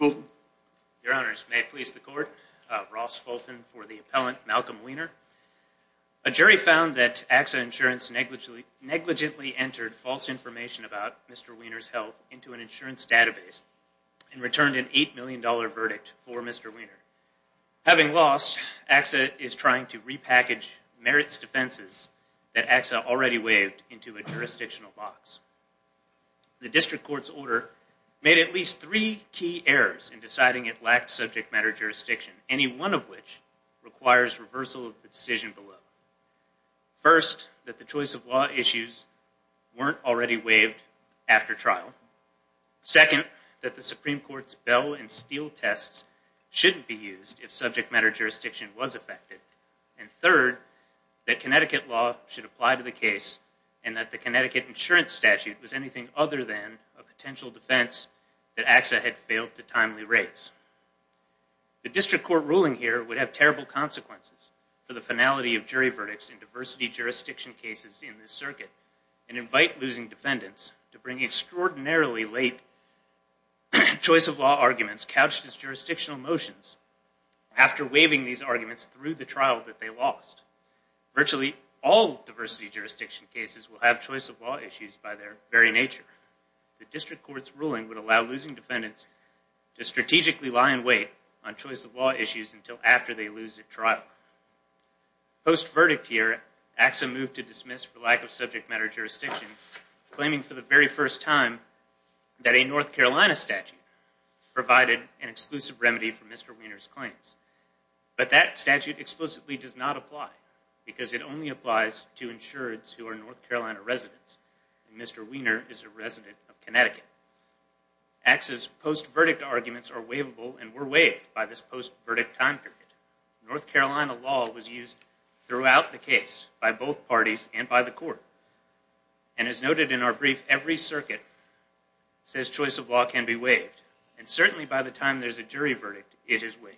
Your Honors, may it please the Court, Ross Fulton for the appellant, Malcolm Wiener. A jury found that AXA Insurance negligently entered false information about Mr. Wiener's health into an insurance database and returned an $8 million verdict for Mr. Wiener. Having lost, AXA is trying to repackage merits defenses that AXA already waived into a jurisdictional box. The District Court's order made at least three key errors in deciding it lacked subject matter jurisdiction, any one of which requires reversal of the decision below. First, that the choice of law issues weren't already waived after trial. Second, that the Supreme Court's Bell and Steele tests shouldn't be used if subject matter jurisdiction was affected. And third, that Connecticut law should apply to the case and that the Connecticut insurance statute was anything other than a potential defense that AXA had failed to timely raise. The District Court ruling here would have terrible consequences for the finality of jury verdicts in diversity jurisdiction cases in this circuit and invite losing defendants to bring extraordinarily late choice of law arguments couched as jurisdictional motions after waiving these arguments through the trial that they lost. Virtually all diversity jurisdiction cases will have choice of law issues by their very nature. The District Court's ruling would allow losing defendants to strategically lie in wait on choice of law issues until after they lose at trial. Post-verdict here, AXA moved to dismiss for lack of subject matter jurisdiction, claiming for the very first time that a North Carolina statute provided an exclusive remedy for Mr. Wiener's claims. But that statute explicitly does not apply because it only applies to insureds who are North Carolina residents. Mr. Wiener is a resident of Connecticut. AXA's post-verdict arguments are waivable and were waived by this post-verdict time period. North Carolina law was used throughout the case by both parties and by the court. And as noted in our brief, every circuit says choice of law can be waived. And certainly by the time there's a jury verdict, it is waived.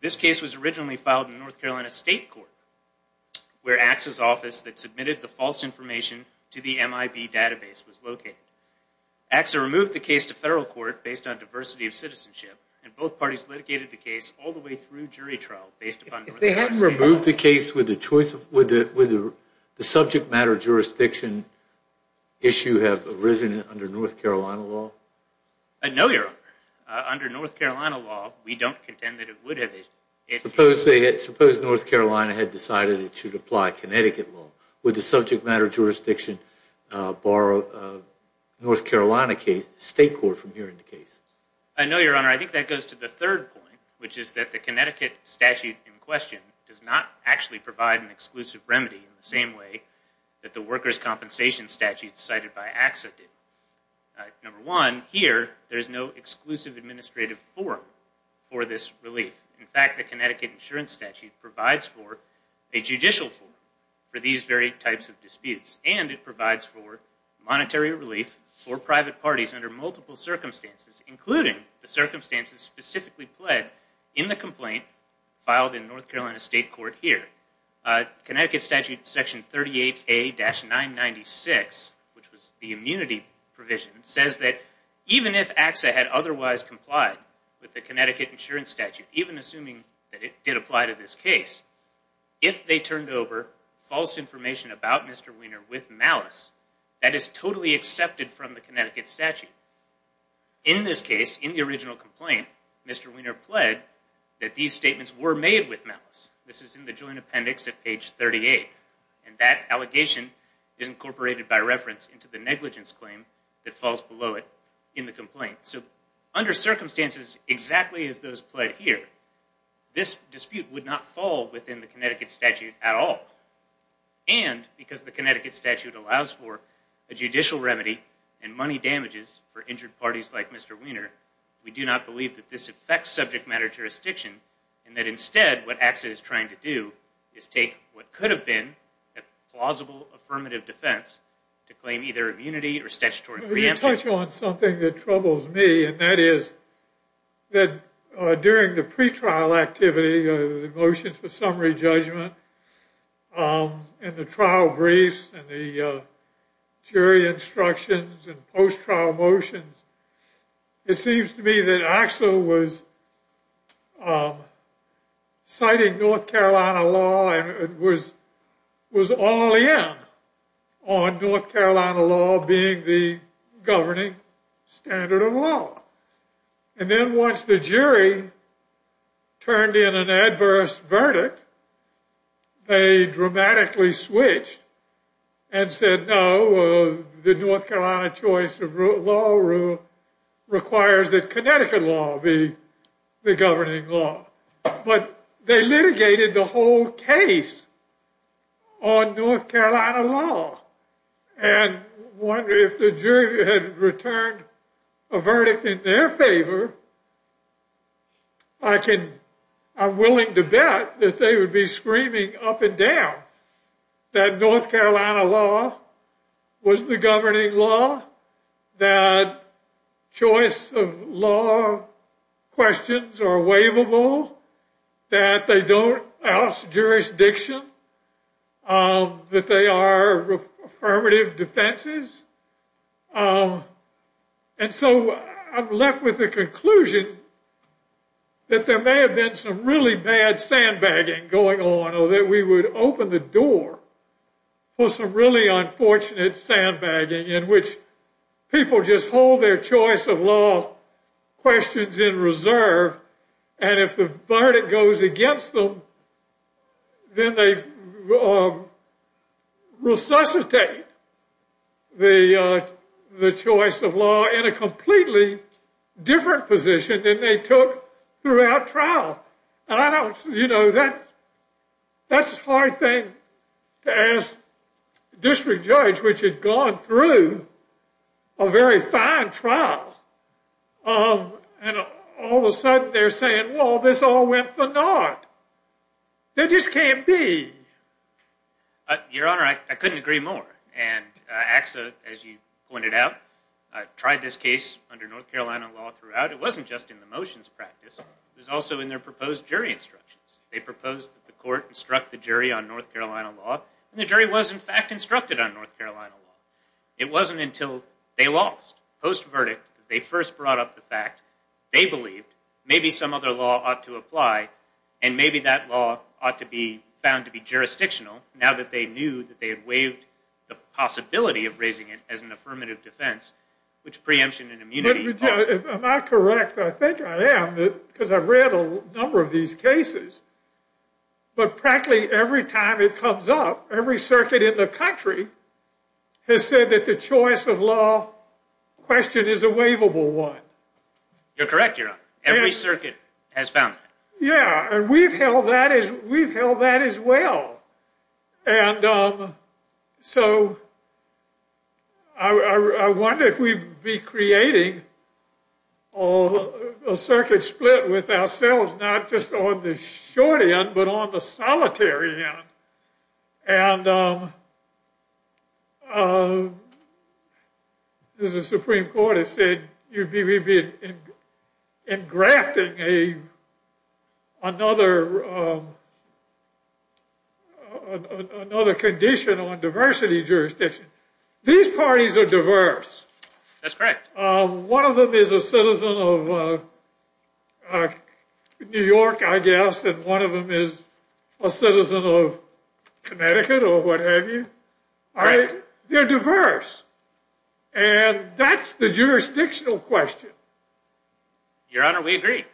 This case was originally filed in North Carolina State Court, where AXA's office that submitted the false information to the MIB database was located. AXA removed the case to federal court based on diversity of citizenship, and both parties litigated the case all the way through jury trial based upon North Carolina state law. If they hadn't removed the case, would the subject matter jurisdiction issue have arisen under North Carolina law? No, Your Honor. Under North Carolina law, we don't contend that it would have. Suppose North Carolina had decided it should apply Connecticut law. Would the subject matter jurisdiction borrow North Carolina State Court from hearing the case? I know, Your Honor. I think that goes to the third point, which is that the Connecticut statute in question does not actually provide an exclusive remedy in the same way that the workers' compensation statute cited by AXA did. Number one, here, there's no exclusive administrative form for this relief. In fact, the Connecticut insurance statute provides for a judicial form for these very types of disputes. And it provides for monetary relief for private parties under multiple circumstances, including the circumstances specifically pled in the complaint filed in North Carolina State Court here. Connecticut statute section 38A-996, which was the immunity provision, says that even if AXA had otherwise complied with the Connecticut insurance statute, even assuming that it did apply to this case, if they turned over false information about Mr. Wiener with malice, that is totally accepted from the Connecticut statute. In this case, in the original complaint, Mr. Wiener pled that these statements were made with malice. This is in the joint appendix at page 38. And that allegation is incorporated by reference into the negligence claim that falls below it in the complaint. So under circumstances exactly as those pled here, this dispute would not fall within the Connecticut statute at all. And because the Connecticut statute allows for a judicial remedy and money damages for injured parties like Mr. Wiener, we do not believe that this affects subject matter jurisdiction, and that instead what AXA is trying to do is take what could have been a plausible affirmative defense to claim either immunity or statutory preemption. Let me touch on something that troubles me, and that is that during the pretrial activity, the motions for summary judgment and the trial briefs and the jury instructions and post-trial motions, it seems to me that AXA was citing North Carolina law and was all in on North Carolina law being the governing standard of law. And then once the jury turned in an adverse verdict, they dramatically switched and said, no, the North Carolina choice of law requires that Connecticut law be the governing law. But they litigated the whole case on North Carolina law. And if the jury had returned a verdict in their favor, I'm willing to bet that they would be screaming up and down that North Carolina law was the governing law, that choice of law questions are waivable, that they don't ask jurisdiction, that they are affirmative defenses. And so I'm left with the conclusion that there may have been some really bad sandbagging going on, that we would open the door for some really unfortunate sandbagging in which people just hold their choice of law questions in reserve. And if the verdict goes against them, then they resuscitate the choice of law in a completely different position than they took throughout trial. You know, that's a hard thing to ask a district judge which had gone through a very fine trial. And all of a sudden they're saying, well, this all went for naught. There just can't be. Your Honor, I couldn't agree more. And AXA, as you pointed out, tried this case under North Carolina law throughout. It wasn't just in the motions practice. It was also in their proposed jury instructions. They proposed that the court instruct the jury on North Carolina law. And the jury was, in fact, instructed on North Carolina law. It wasn't until they lost, post-verdict, that they first brought up the fact they believed maybe some other law ought to apply, and maybe that law ought to be found to be jurisdictional now that they knew that they had waived the possibility of raising it as an affirmative defense, which preemption and immunity are. Am I correct? I think I am because I've read a number of these cases. But practically every time it comes up, every circuit in the country has said that the choice of law question is a waivable one. You're correct, Your Honor. Every circuit has found that. Yeah, and we've held that as well. And so I wonder if we'd be creating a circuit split with ourselves, not just on the short end, but on the solitary end. And as the Supreme Court has said, you'd be engrafting another condition on diversity jurisdiction. These parties are diverse. That's correct. One of them is a citizen of New York, I guess, and one of them is a citizen of Connecticut or what have you. They're diverse, and that's the jurisdictional question. Your Honor, we agree.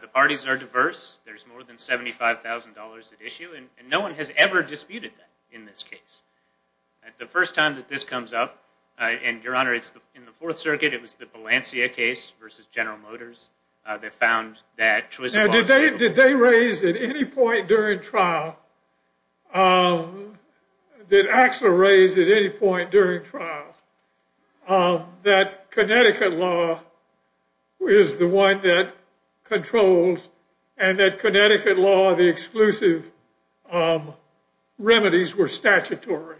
The parties are diverse. There's more than $75,000 at issue, and no one has ever disputed that in this case. The first time that this comes up, and, Your Honor, in the Fourth Circuit it was the Balencia case versus General Motors that found that choice of law. Now, did they raise at any point during trial, did Axler raise at any point during trial, that Connecticut law is the one that controls and that Connecticut law, the exclusive remedies were statutory?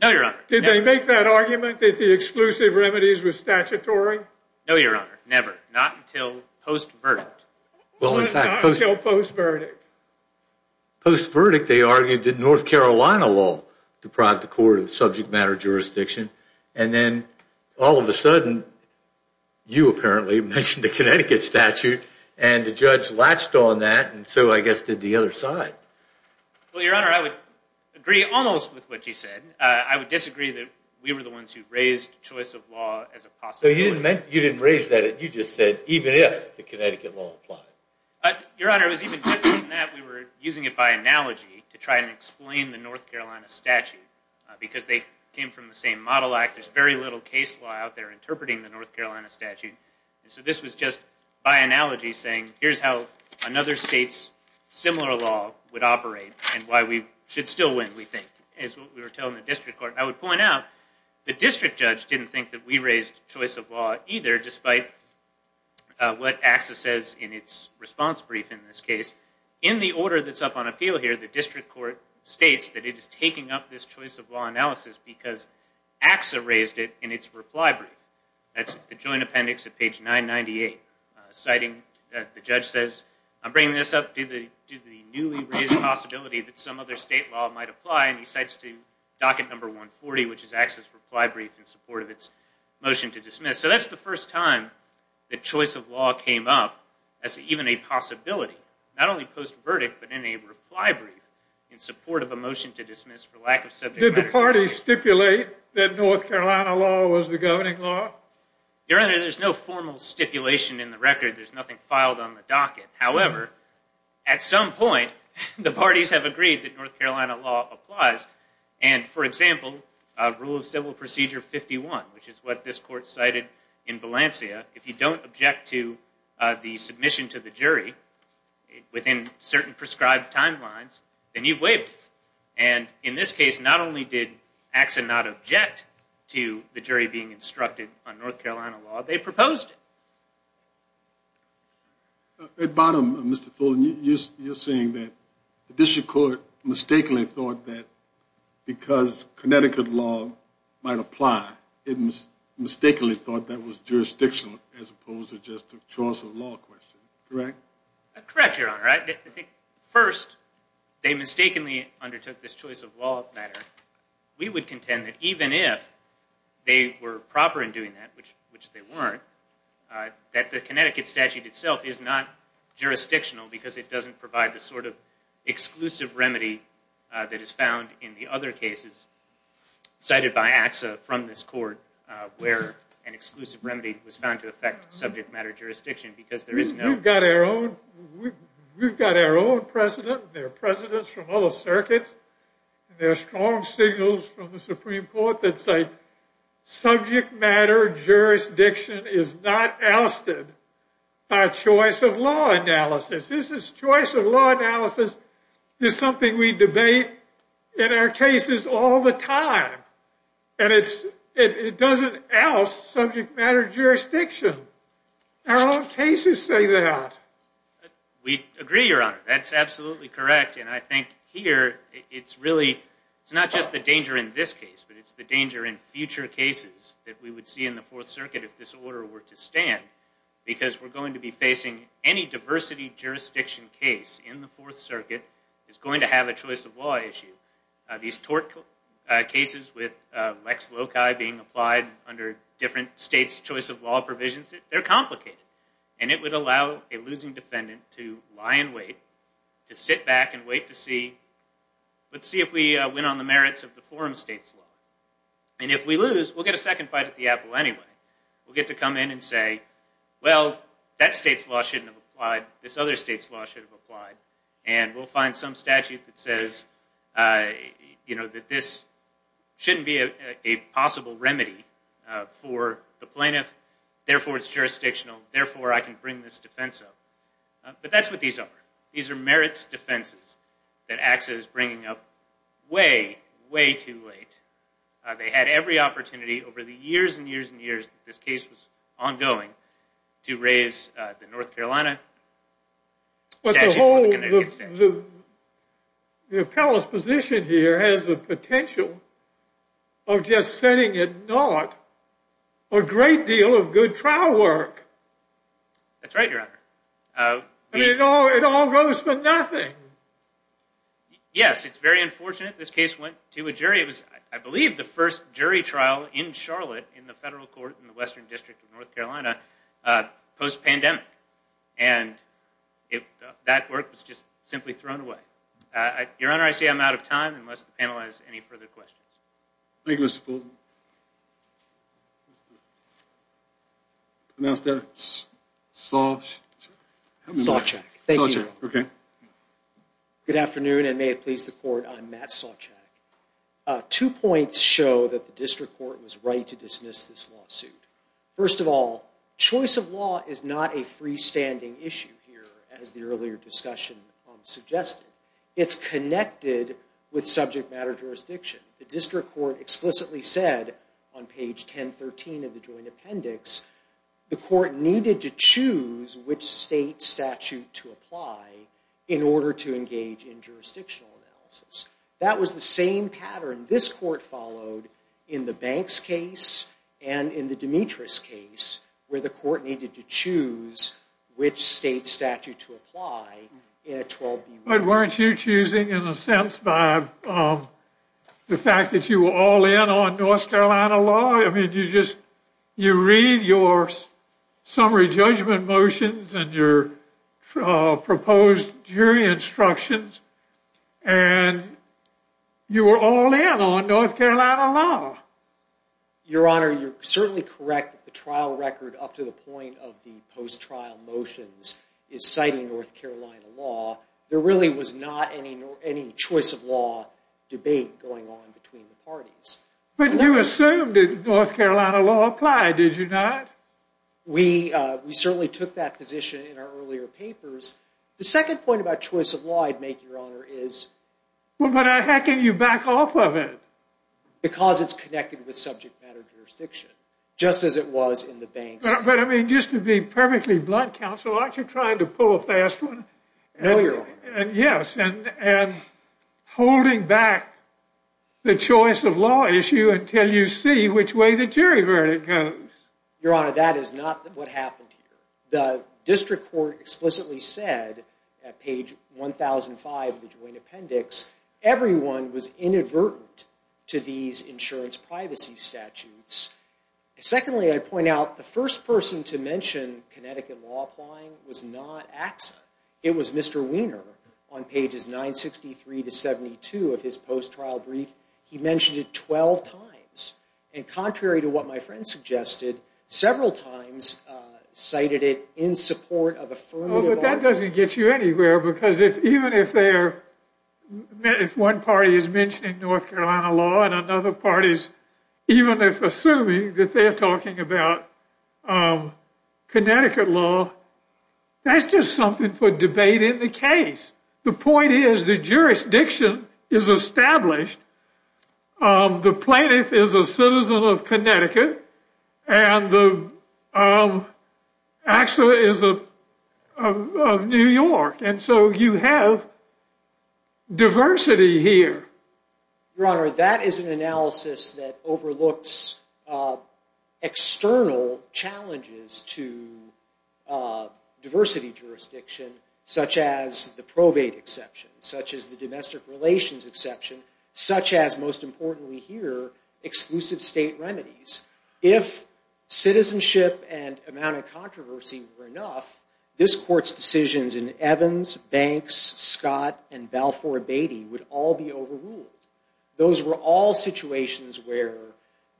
No, Your Honor. Did they make that argument that the exclusive remedies were statutory? No, Your Honor. Never. Not until post-verdict. Not until post-verdict. Post-verdict they argued that North Carolina law deprived the court of subject matter jurisdiction, and then all of a sudden you apparently mentioned the Connecticut statute, and the judge latched on that, and so I guess did the other side. Well, Your Honor, I would agree almost with what you said. I would disagree that we were the ones who raised choice of law as a possibility. You didn't raise that. You just said even if the Connecticut law applied. Your Honor, it was even different than that. We were using it by analogy to try and explain the North Carolina statute because they came from the same model act. There's very little case law out there interpreting the North Carolina statute, so this was just by analogy saying here's how another state's similar law would operate and why we should still win, we think, is what we were telling the district court. I would point out the district judge didn't think that we raised choice of law either, despite what AXA says in its response brief in this case. In the order that's up on appeal here, the district court states that it is taking up this choice of law analysis because AXA raised it in its reply brief. That's the joint appendix at page 998, citing that the judge says, I'm bringing this up due to the newly raised possibility that some other state law might apply, and he cites to docket number 140, which is AXA's reply brief in support of its motion to dismiss. So that's the first time that choice of law came up as even a possibility, not only post-verdict but in a reply brief in support of a motion to dismiss for lack of subject matter. Did the party stipulate that North Carolina law was the governing law? Your Honor, there's no formal stipulation in the record. There's nothing filed on the docket. However, at some point, the parties have agreed that North Carolina law applies. And, for example, rule of civil procedure 51, which is what this court cited in Balencia, if you don't object to the submission to the jury within certain prescribed timelines, then you've waived it. And in this case, not only did AXA not object to the jury being instructed on North Carolina law, they proposed it. At bottom, Mr. Fuller, you're saying that the district court mistakenly thought that because Connecticut law might apply, it mistakenly thought that was jurisdictional as opposed to just a choice of law question, correct? Correct, Your Honor. First, they mistakenly undertook this choice of law matter. We would contend that even if they were proper in doing that, which they weren't, that the Connecticut statute itself is not jurisdictional because it doesn't provide the sort of exclusive remedy that is found in the other cases cited by AXA from this court where an exclusive remedy was found to affect subject matter jurisdiction because there is no- We've got our own precedent and there are precedents from other circuits and there are strong signals from the Supreme Court that say, subject matter jurisdiction is not ousted by choice of law analysis. This choice of law analysis is something we debate in our cases all the time and it doesn't oust subject matter jurisdiction. Our cases say that. We agree, Your Honor. That's absolutely correct. And I think here, it's really, it's not just the danger in this case, but it's the danger in future cases that we would see in the Fourth Circuit if this order were to stand because we're going to be facing any diversity jurisdiction case in the Fourth Circuit is going to have a choice of law issue. These tort cases with Lex Loci being applied under different states' choice of law provisions, they're complicated. And it would allow a losing defendant to lie in wait, to sit back and wait to see, let's see if we win on the merits of the forum states law. And if we lose, we'll get a second bite at the apple anyway. We'll get to come in and say, well, that state's law shouldn't have applied. This other state's law should have applied. And we'll find some statute that says that this shouldn't be a possible remedy for the plaintiff. Therefore, it's jurisdictional. Therefore, I can bring this defense up. But that's what these are. These are merits defenses that AXA is bringing up way, way too late. They had every opportunity over the years and years and years that this case was ongoing to raise the North Carolina statute. As a whole, the appellate's position here has the potential of just setting it not a great deal of good trial work. That's right, Your Honor. It all goes to nothing. Yes, it's very unfortunate this case went to a jury. It was, I believe, the first jury trial in Charlotte in the federal court in the Western District of North Carolina post-pandemic. And that work was just simply thrown away. Your Honor, I see I'm out of time unless the panel has any further questions. Thank you, Mr. Fulton. Mr. Sawcheck. Thank you, Your Honor. Good afternoon, and may it please the Court. I'm Matt Sawcheck. Two points show that the district court was right to dismiss this lawsuit. First of all, choice of law is not a freestanding issue here, as the earlier discussion suggested. It's connected with subject matter jurisdiction. The district court explicitly said on page 1013 of the joint appendix, the court needed to choose which state statute to apply in order to engage in jurisdictional analysis. That was the same pattern this court followed in the Banks case and in the Demetrius case, where the court needed to choose which state statute to apply in a 12-B case. But weren't you choosing, in a sense, by the fact that you were all in on North Carolina law? I mean, you read your summary judgment motions and your proposed jury instructions, and you were all in on North Carolina law. Your Honor, you're certainly correct that the trial record up to the point of the post-trial motions is citing North Carolina law. There really was not any choice of law debate going on between the parties. But you assumed that North Carolina law applied, did you not? We certainly took that position in our earlier papers. The second point about choice of law I'd make, Your Honor, is— Well, but how can you back off of it? Because it's connected with subject matter jurisdiction, just as it was in the Banks case. But, I mean, just to be perfectly blunt, counsel, aren't you trying to pull a fast one? No, Your Honor. Yes, and holding back the choice of law issue until you see which way the jury verdict goes. Your Honor, that is not what happened here. The district court explicitly said at page 1005 of the joint appendix, everyone was inadvertent to these insurance privacy statutes. Secondly, I'd point out the first person to mention Connecticut law applying was not AXA. It was Mr. Wiener on pages 963 to 72 of his post-trial brief. He mentioned it 12 times. And contrary to what my friend suggested, several times cited it in support of affirmative law. Well, but that doesn't get you anywhere, because even if one party is mentioning North Carolina law and another party is even if assuming that they are talking about Connecticut law, that's just something for debate in the case. The point is the jurisdiction is established. The plaintiff is a citizen of Connecticut and AXA is of New York, and so you have diversity here. Your Honor, that is an analysis that overlooks external challenges to diversity jurisdiction, such as the probate exception, such as the domestic relations exception, such as, most importantly here, exclusive state remedies. If citizenship and amount of controversy were enough, this Court's decisions in Evans, Banks, Scott, and Balfour Beatty would all be overruled. Those were all situations where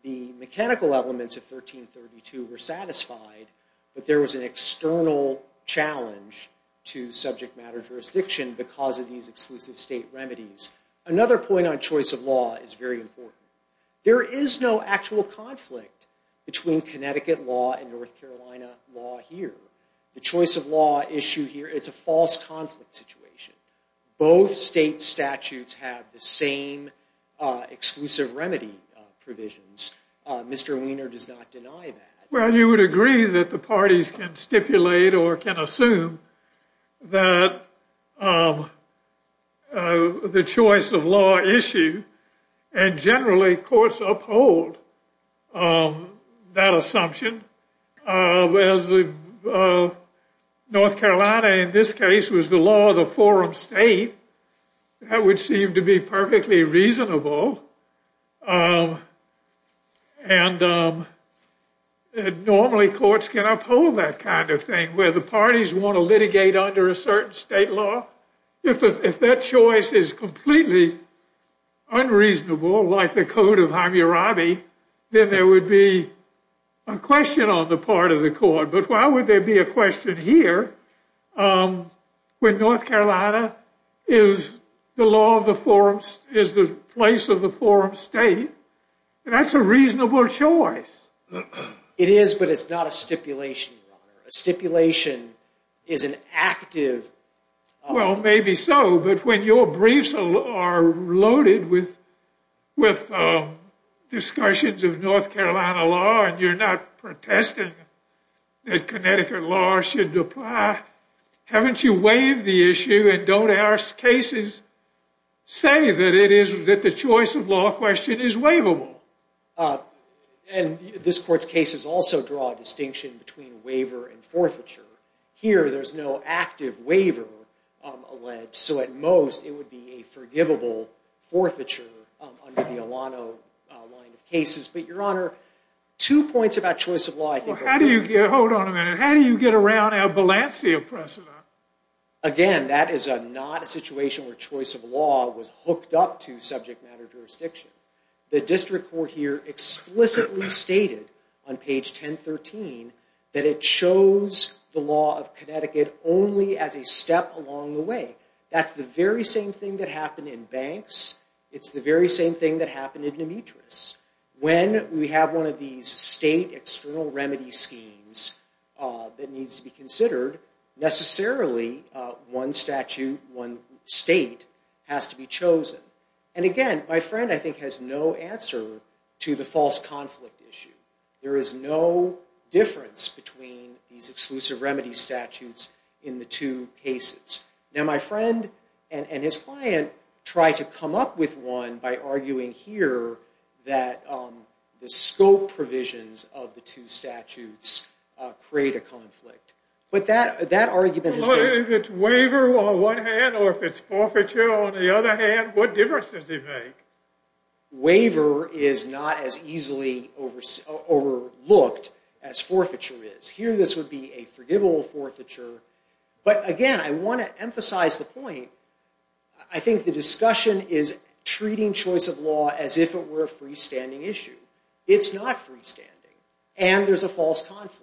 the mechanical elements of 1332 were satisfied, but there was an external challenge to subject matter jurisdiction because of these exclusive state remedies. Another point on choice of law is very important. There is no actual conflict between Connecticut law and North Carolina law here. The choice of law issue here is a false conflict situation. Both state statutes have the same exclusive remedy provisions. Mr. Wiener does not deny that. Well, you would agree that the parties can stipulate or can assume that the choice of law issue, and generally courts uphold that assumption, whereas North Carolina in this case was the law of the forum state. That would seem to be perfectly reasonable, and normally courts can uphold that kind of thing where the parties want to litigate under a certain state law. If that choice is completely unreasonable, like the Code of Hammurabi, then there would be a question on the part of the Court, but why would there be a question here when North Carolina is the place of the forum state? That's a reasonable choice. It is, but it's not a stipulation, Your Honor. A stipulation is an active... Well, maybe so, but when your briefs are loaded with discussions of North Carolina law and you're not protesting that Connecticut law should apply, haven't you waived the issue and don't our cases say that the choice of law question is waivable? And this Court's cases also draw a distinction between waiver and forfeiture. Here, there's no active waiver alleged, so at most it would be a forgivable forfeiture under the Alano line of cases. But, Your Honor, two points about choice of law... Hold on a minute. How do you get around our Balencia precedent? Again, that is not a situation where choice of law was hooked up to subject matter jurisdiction. The District Court here explicitly stated on page 1013 that it chose the law of Connecticut only as a step along the way. That's the very same thing that happened in Banks. It's the very same thing that happened in Demetrius. When we have one of these state external remedy schemes that needs to be considered, necessarily one statute, one state has to be chosen. And again, my friend, I think, has no answer to the false conflict issue. There is no difference between these exclusive remedy statutes in the two cases. Now, my friend and his client try to come up with one by arguing here that the scope provisions of the two statutes create a conflict. But that argument has been... Well, if it's waiver on one hand or if it's forfeiture on the other hand, what difference does it make? Waiver is not as easily overlooked as forfeiture is. Here this would be a forgivable forfeiture. But again, I want to emphasize the point. I think the discussion is treating choice of law as if it were a freestanding issue. It's not freestanding. And there's a false conflict.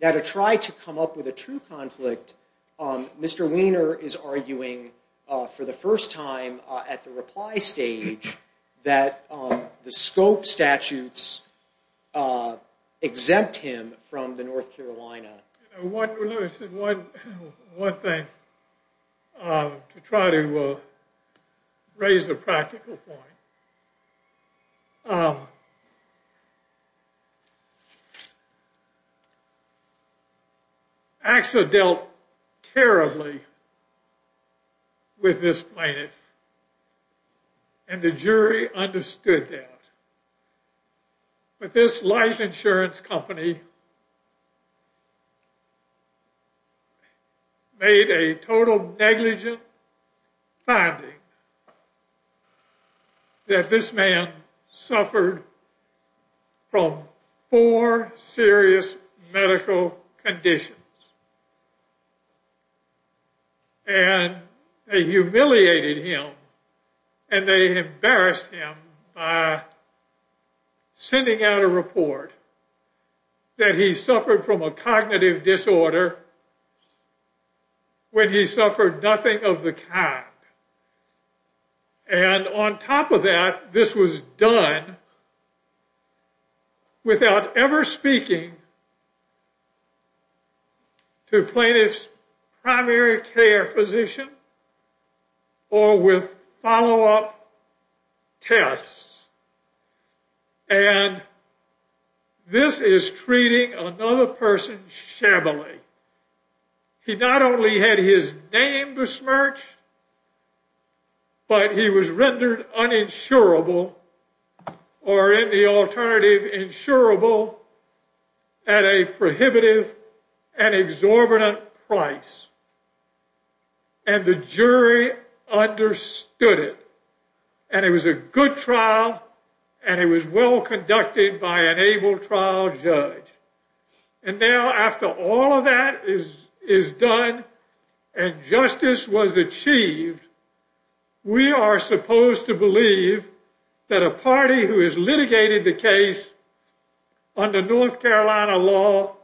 Now, to try to come up with a true conflict, Mr. Wiener is arguing for the first time at the reply stage that the scope statutes exempt him from the North Carolina. Let me say one thing to try to raise a practical point. AXA dealt terribly with this plaintiff. And the jury understood that. But this life insurance company made a total negligent finding that this man suffered from four serious medical conditions. And they humiliated him. And they embarrassed him by sending out a report that he suffered from a cognitive disorder when he suffered nothing of the kind. And on top of that, this was done without ever speaking to plaintiff's primary care physician or with follow-up tests. And this is treating another person shabbily. He not only had his name besmirched, but he was rendered uninsurable or, in the alternative, insurable at a prohibitive and exorbitant price. And the jury understood it. And it was a good trial, and it was well conducted by an able trial judge. And now, after all of that is done and justice was achieved, we are supposed to believe that a party who has litigated the case under North Carolina law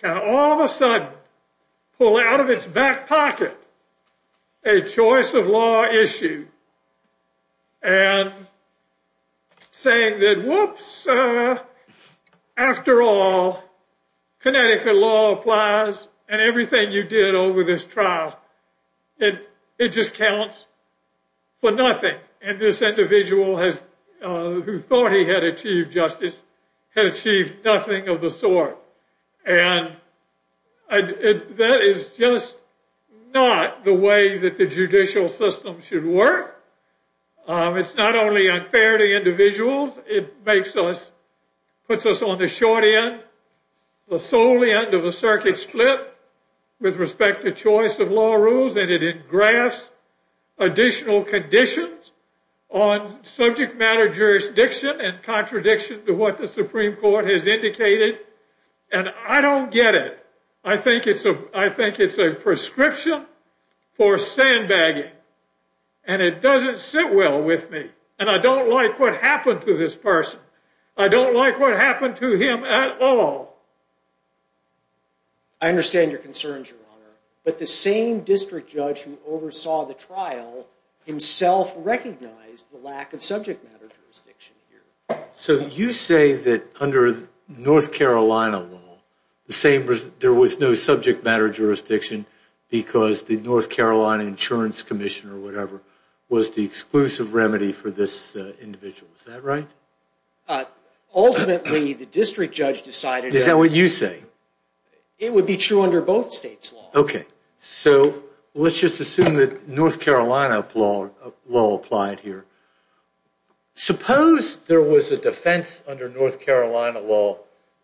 can all of a sudden pull out of its back pocket a choice of law issue and say that, whoops, after all, Connecticut law applies and everything you did over this trial. It just counts for nothing. And this individual who thought he had achieved justice had achieved nothing of the sort. And that is just not the way that the judicial system should work. It's not only unfair to individuals. It puts us on the short end, the solely end of the circuit split with respect to choice of law rules, and it engrafts additional conditions on subject matter jurisdiction and contradiction to what the Supreme Court has indicated. And I don't get it. I think it's a prescription for sandbagging. And it doesn't sit well with me. And I don't like what happened to this person. I don't like what happened to him at all. I understand your concerns, Your Honor. But the same district judge who oversaw the trial himself recognized the lack of subject matter jurisdiction here. So you say that under North Carolina law, there was no subject matter jurisdiction because the North Carolina Insurance Commission or whatever was the exclusive remedy for this individual. Is that right? Ultimately, the district judge decided that... It would be true under both states' law. Okay. So let's just assume that North Carolina law applied here. Suppose there was a defense under North Carolina law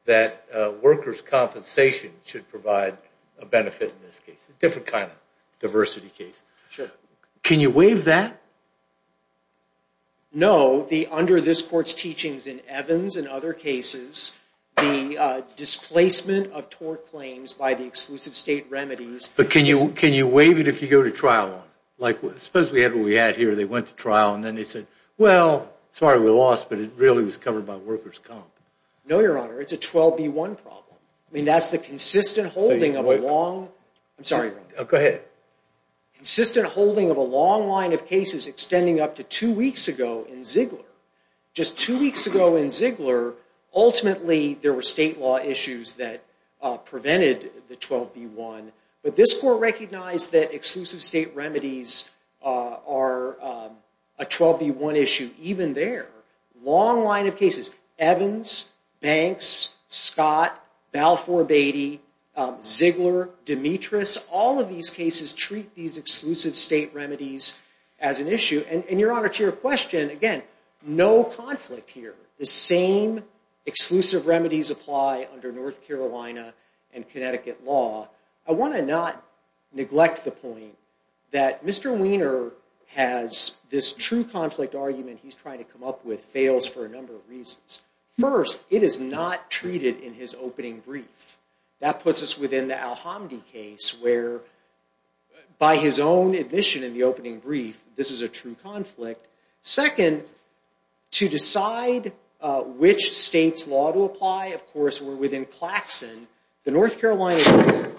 that workers' compensation should provide a benefit in this case, a different kind of diversity case. Can you waive that? No. Under this Court's teachings in Evans and other cases, the displacement of tort claims by the exclusive state remedies... But can you waive it if you go to trial? Suppose we had what we had here, they went to trial, and then they said, well, sorry, we lost, but it really was covered by workers' comp. No, Your Honor, it's a 12B1 problem. I mean, that's the consistent holding of a long... I'm sorry, Your Honor. Go ahead. Consistent holding of a long line of cases extending up to two weeks ago in Ziegler. Just two weeks ago in Ziegler, ultimately there were state law issues that prevented the 12B1. But this Court recognized that exclusive state remedies are a 12B1 issue even there. Long line of cases. Evans, Banks, Scott, Balfour Beatty, Ziegler, Demetrius, all of these cases treat these exclusive state remedies as an issue. And, Your Honor, to your question, again, no conflict here. The same exclusive remedies apply under North Carolina and Connecticut law. I want to not neglect the point that Mr. Wiener has this true conflict argument he's trying to come up with fails for a number of reasons. First, it is not treated in his opening brief. That puts us within the Al-Hamdi case where, by his own admission in the opening brief, this is a true conflict. Second, to decide which state's law to apply, of course, we're within Claxon. The North Carolina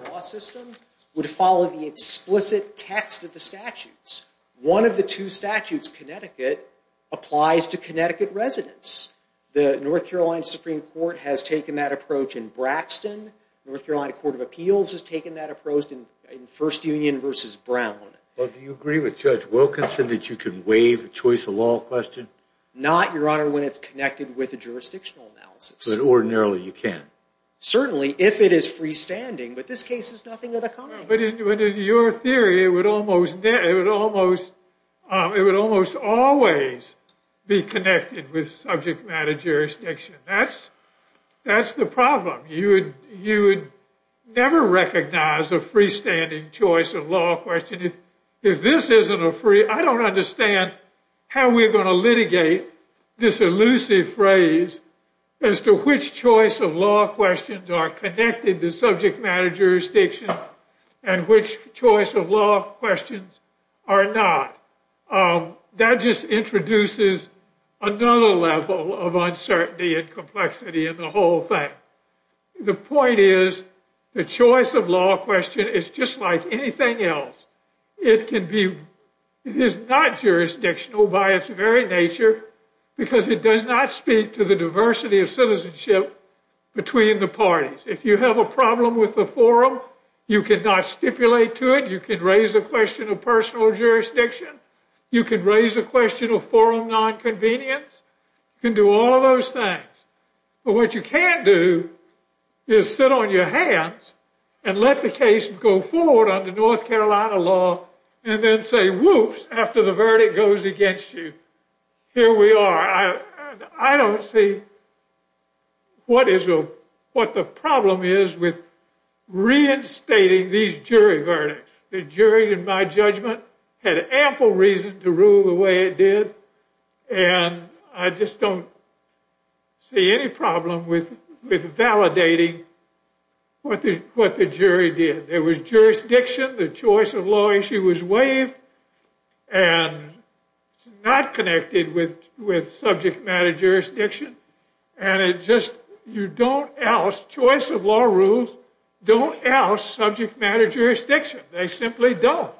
law system would follow the explicit text of the statutes. One of the two statutes, Connecticut, applies to Connecticut residents. The North Carolina Supreme Court has taken that approach in Braxton. The North Carolina Court of Appeals has taken that approach in First Union versus Brown. Well, do you agree with Judge Wilkinson that you can waive a choice of law question? Not, Your Honor, when it's connected with a jurisdictional analysis. But ordinarily you can? Certainly, if it is freestanding. But this case is nothing of the kind. But in your theory, it would almost always be connected with subject matter jurisdiction. That's the problem. You would never recognize a freestanding choice of law question if this isn't a free. I don't understand how we're going to litigate this elusive phrase as to which choice of law questions are connected to subject matter jurisdiction and which choice of law questions are not. That just introduces another level of uncertainty and complexity in the whole thing. The point is the choice of law question is just like anything else. It is not jurisdictional by its very nature because it does not speak to the diversity of citizenship between the parties. If you have a problem with the forum, you cannot stipulate to it. You can raise a question of personal jurisdiction. You can raise a question of forum nonconvenience. You can do all those things. But what you can't do is sit on your hands and let the case go forward under North Carolina law and then say, whoops, after the verdict goes against you. Here we are. I don't see what the problem is with reinstating these jury verdicts. The jury, in my judgment, had ample reason to rule the way it did. And I just don't see any problem with validating what the jury did. There was jurisdiction. The choice of law issue was waived. And it's not connected with subject matter jurisdiction. Choice of law rules don't oust subject matter jurisdiction. They simply don't.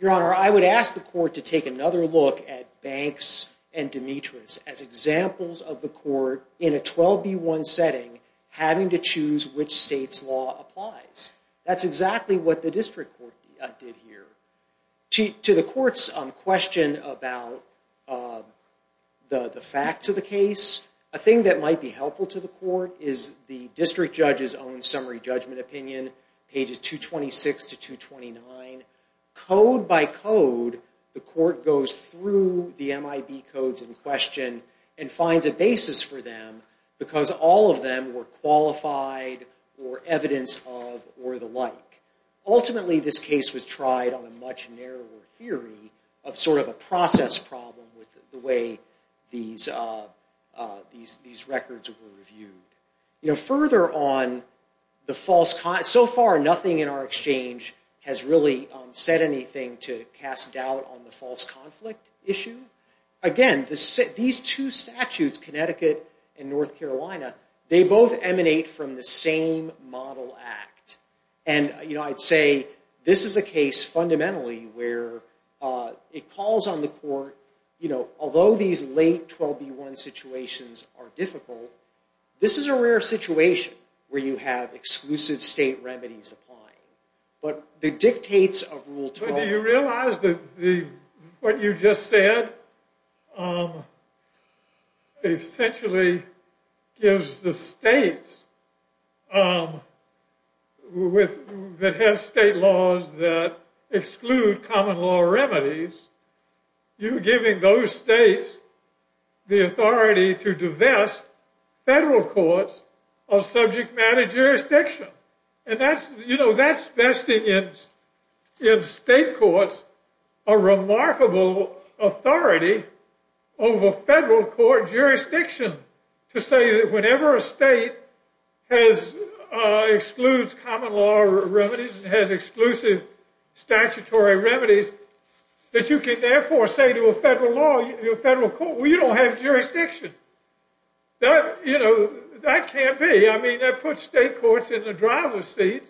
Your Honor, I would ask the court to take another look at Banks and Demetrius as examples of the court, in a 12B1 setting, having to choose which state's law applies. That's exactly what the district court did here. To the court's question about the facts of the case, a thing that might be helpful to the court is the district judge's own summary judgment opinion, pages 226 to 229. Code by code, the court goes through the MIB codes in question and finds a basis for them because all of them were qualified or evidence of or the like. Ultimately, this case was tried on a much narrower theory of sort of a process problem with the way these records were reviewed. So far, nothing in our exchange has really said anything to cast doubt on the false conflict issue. Again, these two statutes, Connecticut and North Carolina, they both emanate from the same model act. I'd say this is a case, fundamentally, where it calls on the court, although these late 12B1 situations are difficult, this is a rare situation where you have exclusive state remedies applying. But the dictates of Rule 12... Do you realize that what you just said essentially gives the states that have state laws that exclude common law remedies, you're giving those states the authority to divest federal courts of subject matter jurisdiction. You know, that's investing in state courts a remarkable authority over federal court jurisdiction to say that whenever a state excludes common law remedies and has exclusive statutory remedies, that you can therefore say to a federal court, well, you don't have jurisdiction. That can't be. I mean, that puts state courts in the driver's seat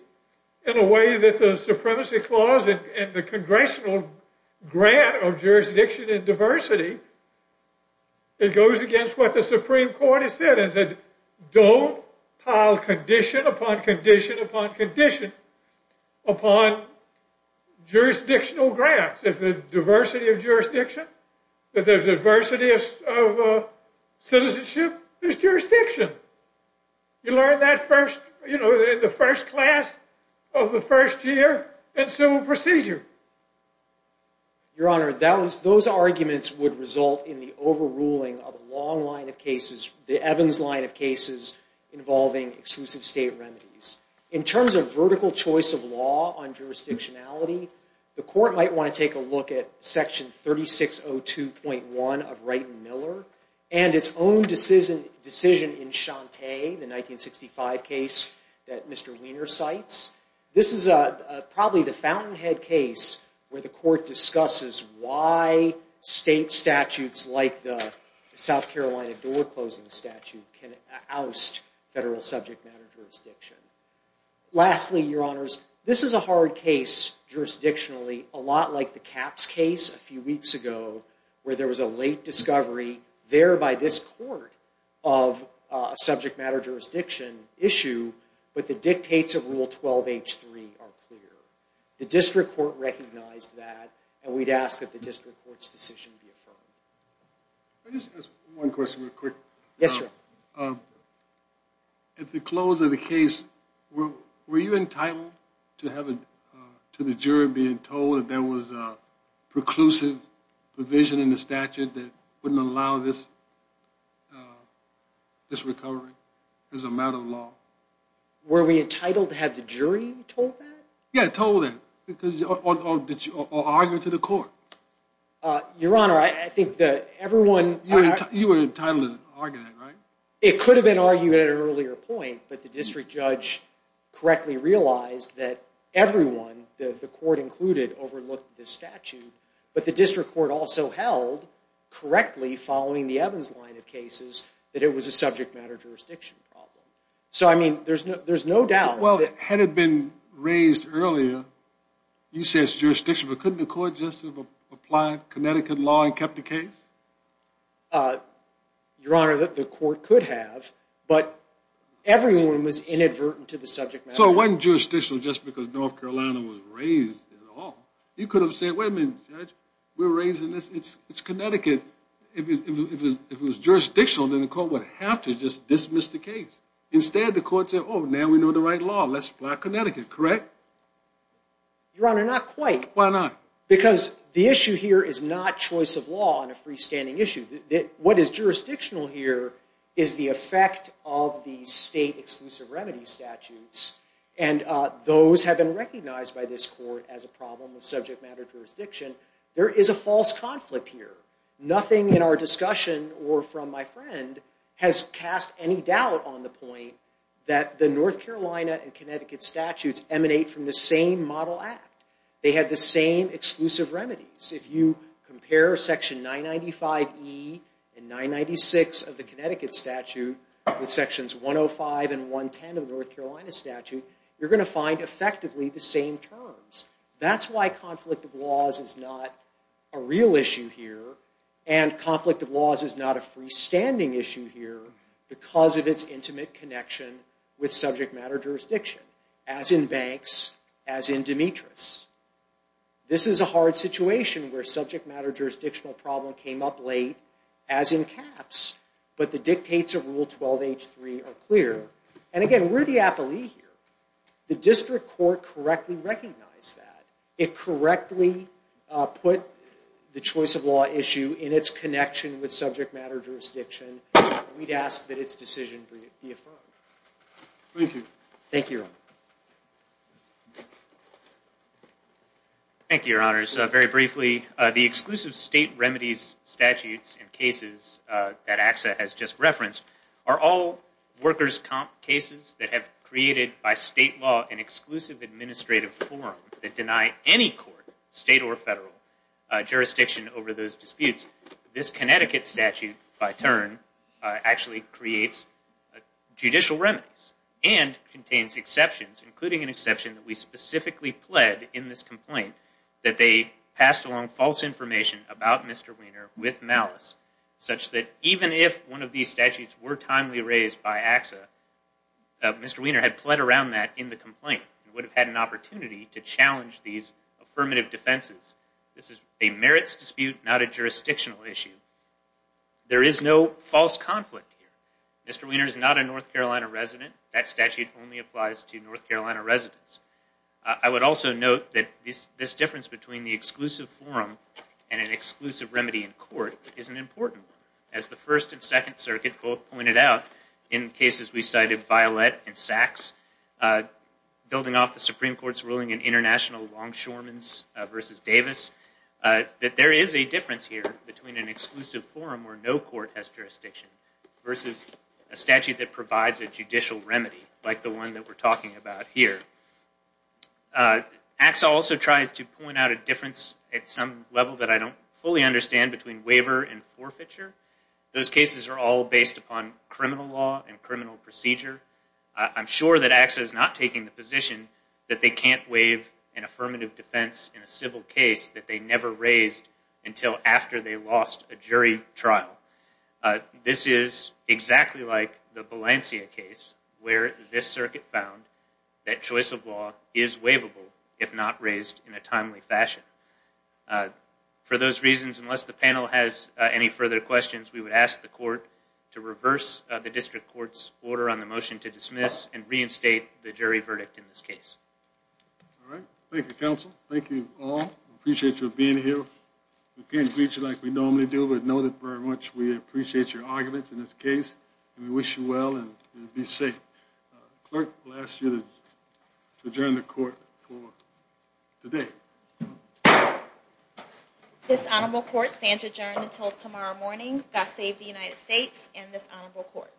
in a way that the Supremacy Clause and the Congressional Grant of Jurisdiction and Diversity, it goes against what the Supreme Court has said. It said, don't pile condition upon condition upon condition upon jurisdictional grants. If there's diversity of jurisdiction, if there's diversity of citizenship, there's jurisdiction. You learn that in the first class of the first year in civil procedure. Your Honor, those arguments would result in the overruling of a long line of cases, the Evans line of cases involving exclusive state remedies. In terms of vertical choice of law on jurisdictionality, the court might want to take a look at Section 3602.1 of Wright and Miller and its own decision in Shante, the 1965 case that Mr. Wiener cites. This is probably the fountainhead case where the court discusses why state statutes like the South Carolina door-closing statute can oust federal subject matter jurisdiction. Lastly, Your Honors, this is a hard case jurisdictionally, a lot like the Capps case a few weeks ago where there was a late discovery there by this court of a subject matter jurisdiction issue, but the dictates of Rule 12.H.3 are clear. The district court recognized that, and we'd ask that the district court's decision be affirmed. Can I just ask one question real quick? Yes, Your Honor. At the close of the case, were you entitled to the jury being told that there was a preclusive provision in the statute that wouldn't allow this recovery as a matter of law? Were we entitled to have the jury told that? Yeah, told that, or argued to the court. Your Honor, I think that everyone... You were entitled to argue that, right? It could have been argued at an earlier point, but the district judge correctly realized that everyone, the court included, overlooked this statute, but the district court also held correctly following the Evans line of cases that it was a subject matter jurisdiction problem. So, I mean, there's no doubt... Well, had it been raised earlier, you say it's jurisdiction, but couldn't the court just have applied Connecticut law and kept the case? Your Honor, the court could have, but everyone was inadvertent to the subject matter. So it wasn't jurisdictional just because North Carolina was raised at all. You could have said, wait a minute, Judge, we're raising this, it's Connecticut. If it was jurisdictional, then the court would have to just dismiss the case. Instead, the court said, oh, now we know the right law, let's apply Connecticut, correct? Your Honor, not quite. Why not? Because the issue here is not choice of law on a freestanding issue. What is jurisdictional here is the effect of the state exclusive remedies statutes, and those have been recognized by this court as a problem of subject matter jurisdiction. There is a false conflict here. Nothing in our discussion or from my friend has cast any doubt on the point that the North Carolina and Connecticut statutes emanate from the same model act. They have the same exclusive remedies. If you compare Section 995E and 996 of the Connecticut statute with Sections 105 and 110 of the North Carolina statute, you're going to find effectively the same terms. That's why conflict of laws is not a real issue here, and conflict of laws is not a freestanding issue here because of its intimate connection with subject matter jurisdiction, as in Banks, as in Demetrius. This is a hard situation where a subject matter jurisdictional problem came up late, as in caps, but the dictates of Rule 12H3 are clear. And again, we're the appellee here. The district court correctly recognized that. It correctly put the choice of law issue in its connection with subject matter jurisdiction, and we'd ask that its decision be affirmed. Thank you. Thank you, Your Honor. Thank you, Your Honors. Very briefly, the exclusive state remedies statutes and cases that AXA has just referenced are all workers' comp cases that have created by state law an exclusive administrative forum that deny any court, state or federal, jurisdiction over those disputes. This Connecticut statute, by turn, actually creates judicial remedies and contains exceptions, including an exception that we specifically pled in this complaint that they passed along false information about Mr. Wiener with malice, such that even if one of these statutes were timely raised by AXA, Mr. Wiener had pled around that in the complaint and would have had an opportunity to challenge these affirmative defenses. This is a merits dispute, not a jurisdictional issue. There is no false conflict here. Mr. Wiener is not a North Carolina resident. That statute only applies to North Carolina residents. I would also note that this difference between the exclusive forum and an exclusive remedy in court is an important one. As the First and Second Circuit both pointed out, in cases we cited, Violette and Sachs, building off the Supreme Court's ruling in International Longshoremen v. Davis, that there is a difference here between an exclusive forum where no court has jurisdiction versus a statute that provides a judicial remedy, like the one that we're talking about here. AXA also tries to point out a difference at some level that I don't fully understand between waiver and forfeiture. Those cases are all based upon criminal law and criminal procedure. I'm sure that AXA is not taking the position that they can't waive an affirmative defense in a civil case that they never raised until after they lost a jury trial. This is exactly like the Balencia case, where this circuit found that choice of law is waivable if not raised in a timely fashion. For those reasons, unless the panel has any further questions, we would ask the Court to reverse the District Court's order on the motion to dismiss and reinstate the jury verdict in this case. All right. Thank you, Counsel. Thank you all. We appreciate you being here. We can't greet you like we normally do, but know that very much we appreciate your arguments in this case. We wish you well and be safe. The Clerk will ask you to adjourn the Court for today. This Honorable Court stands adjourned until tomorrow morning. God save the United States and this Honorable Court.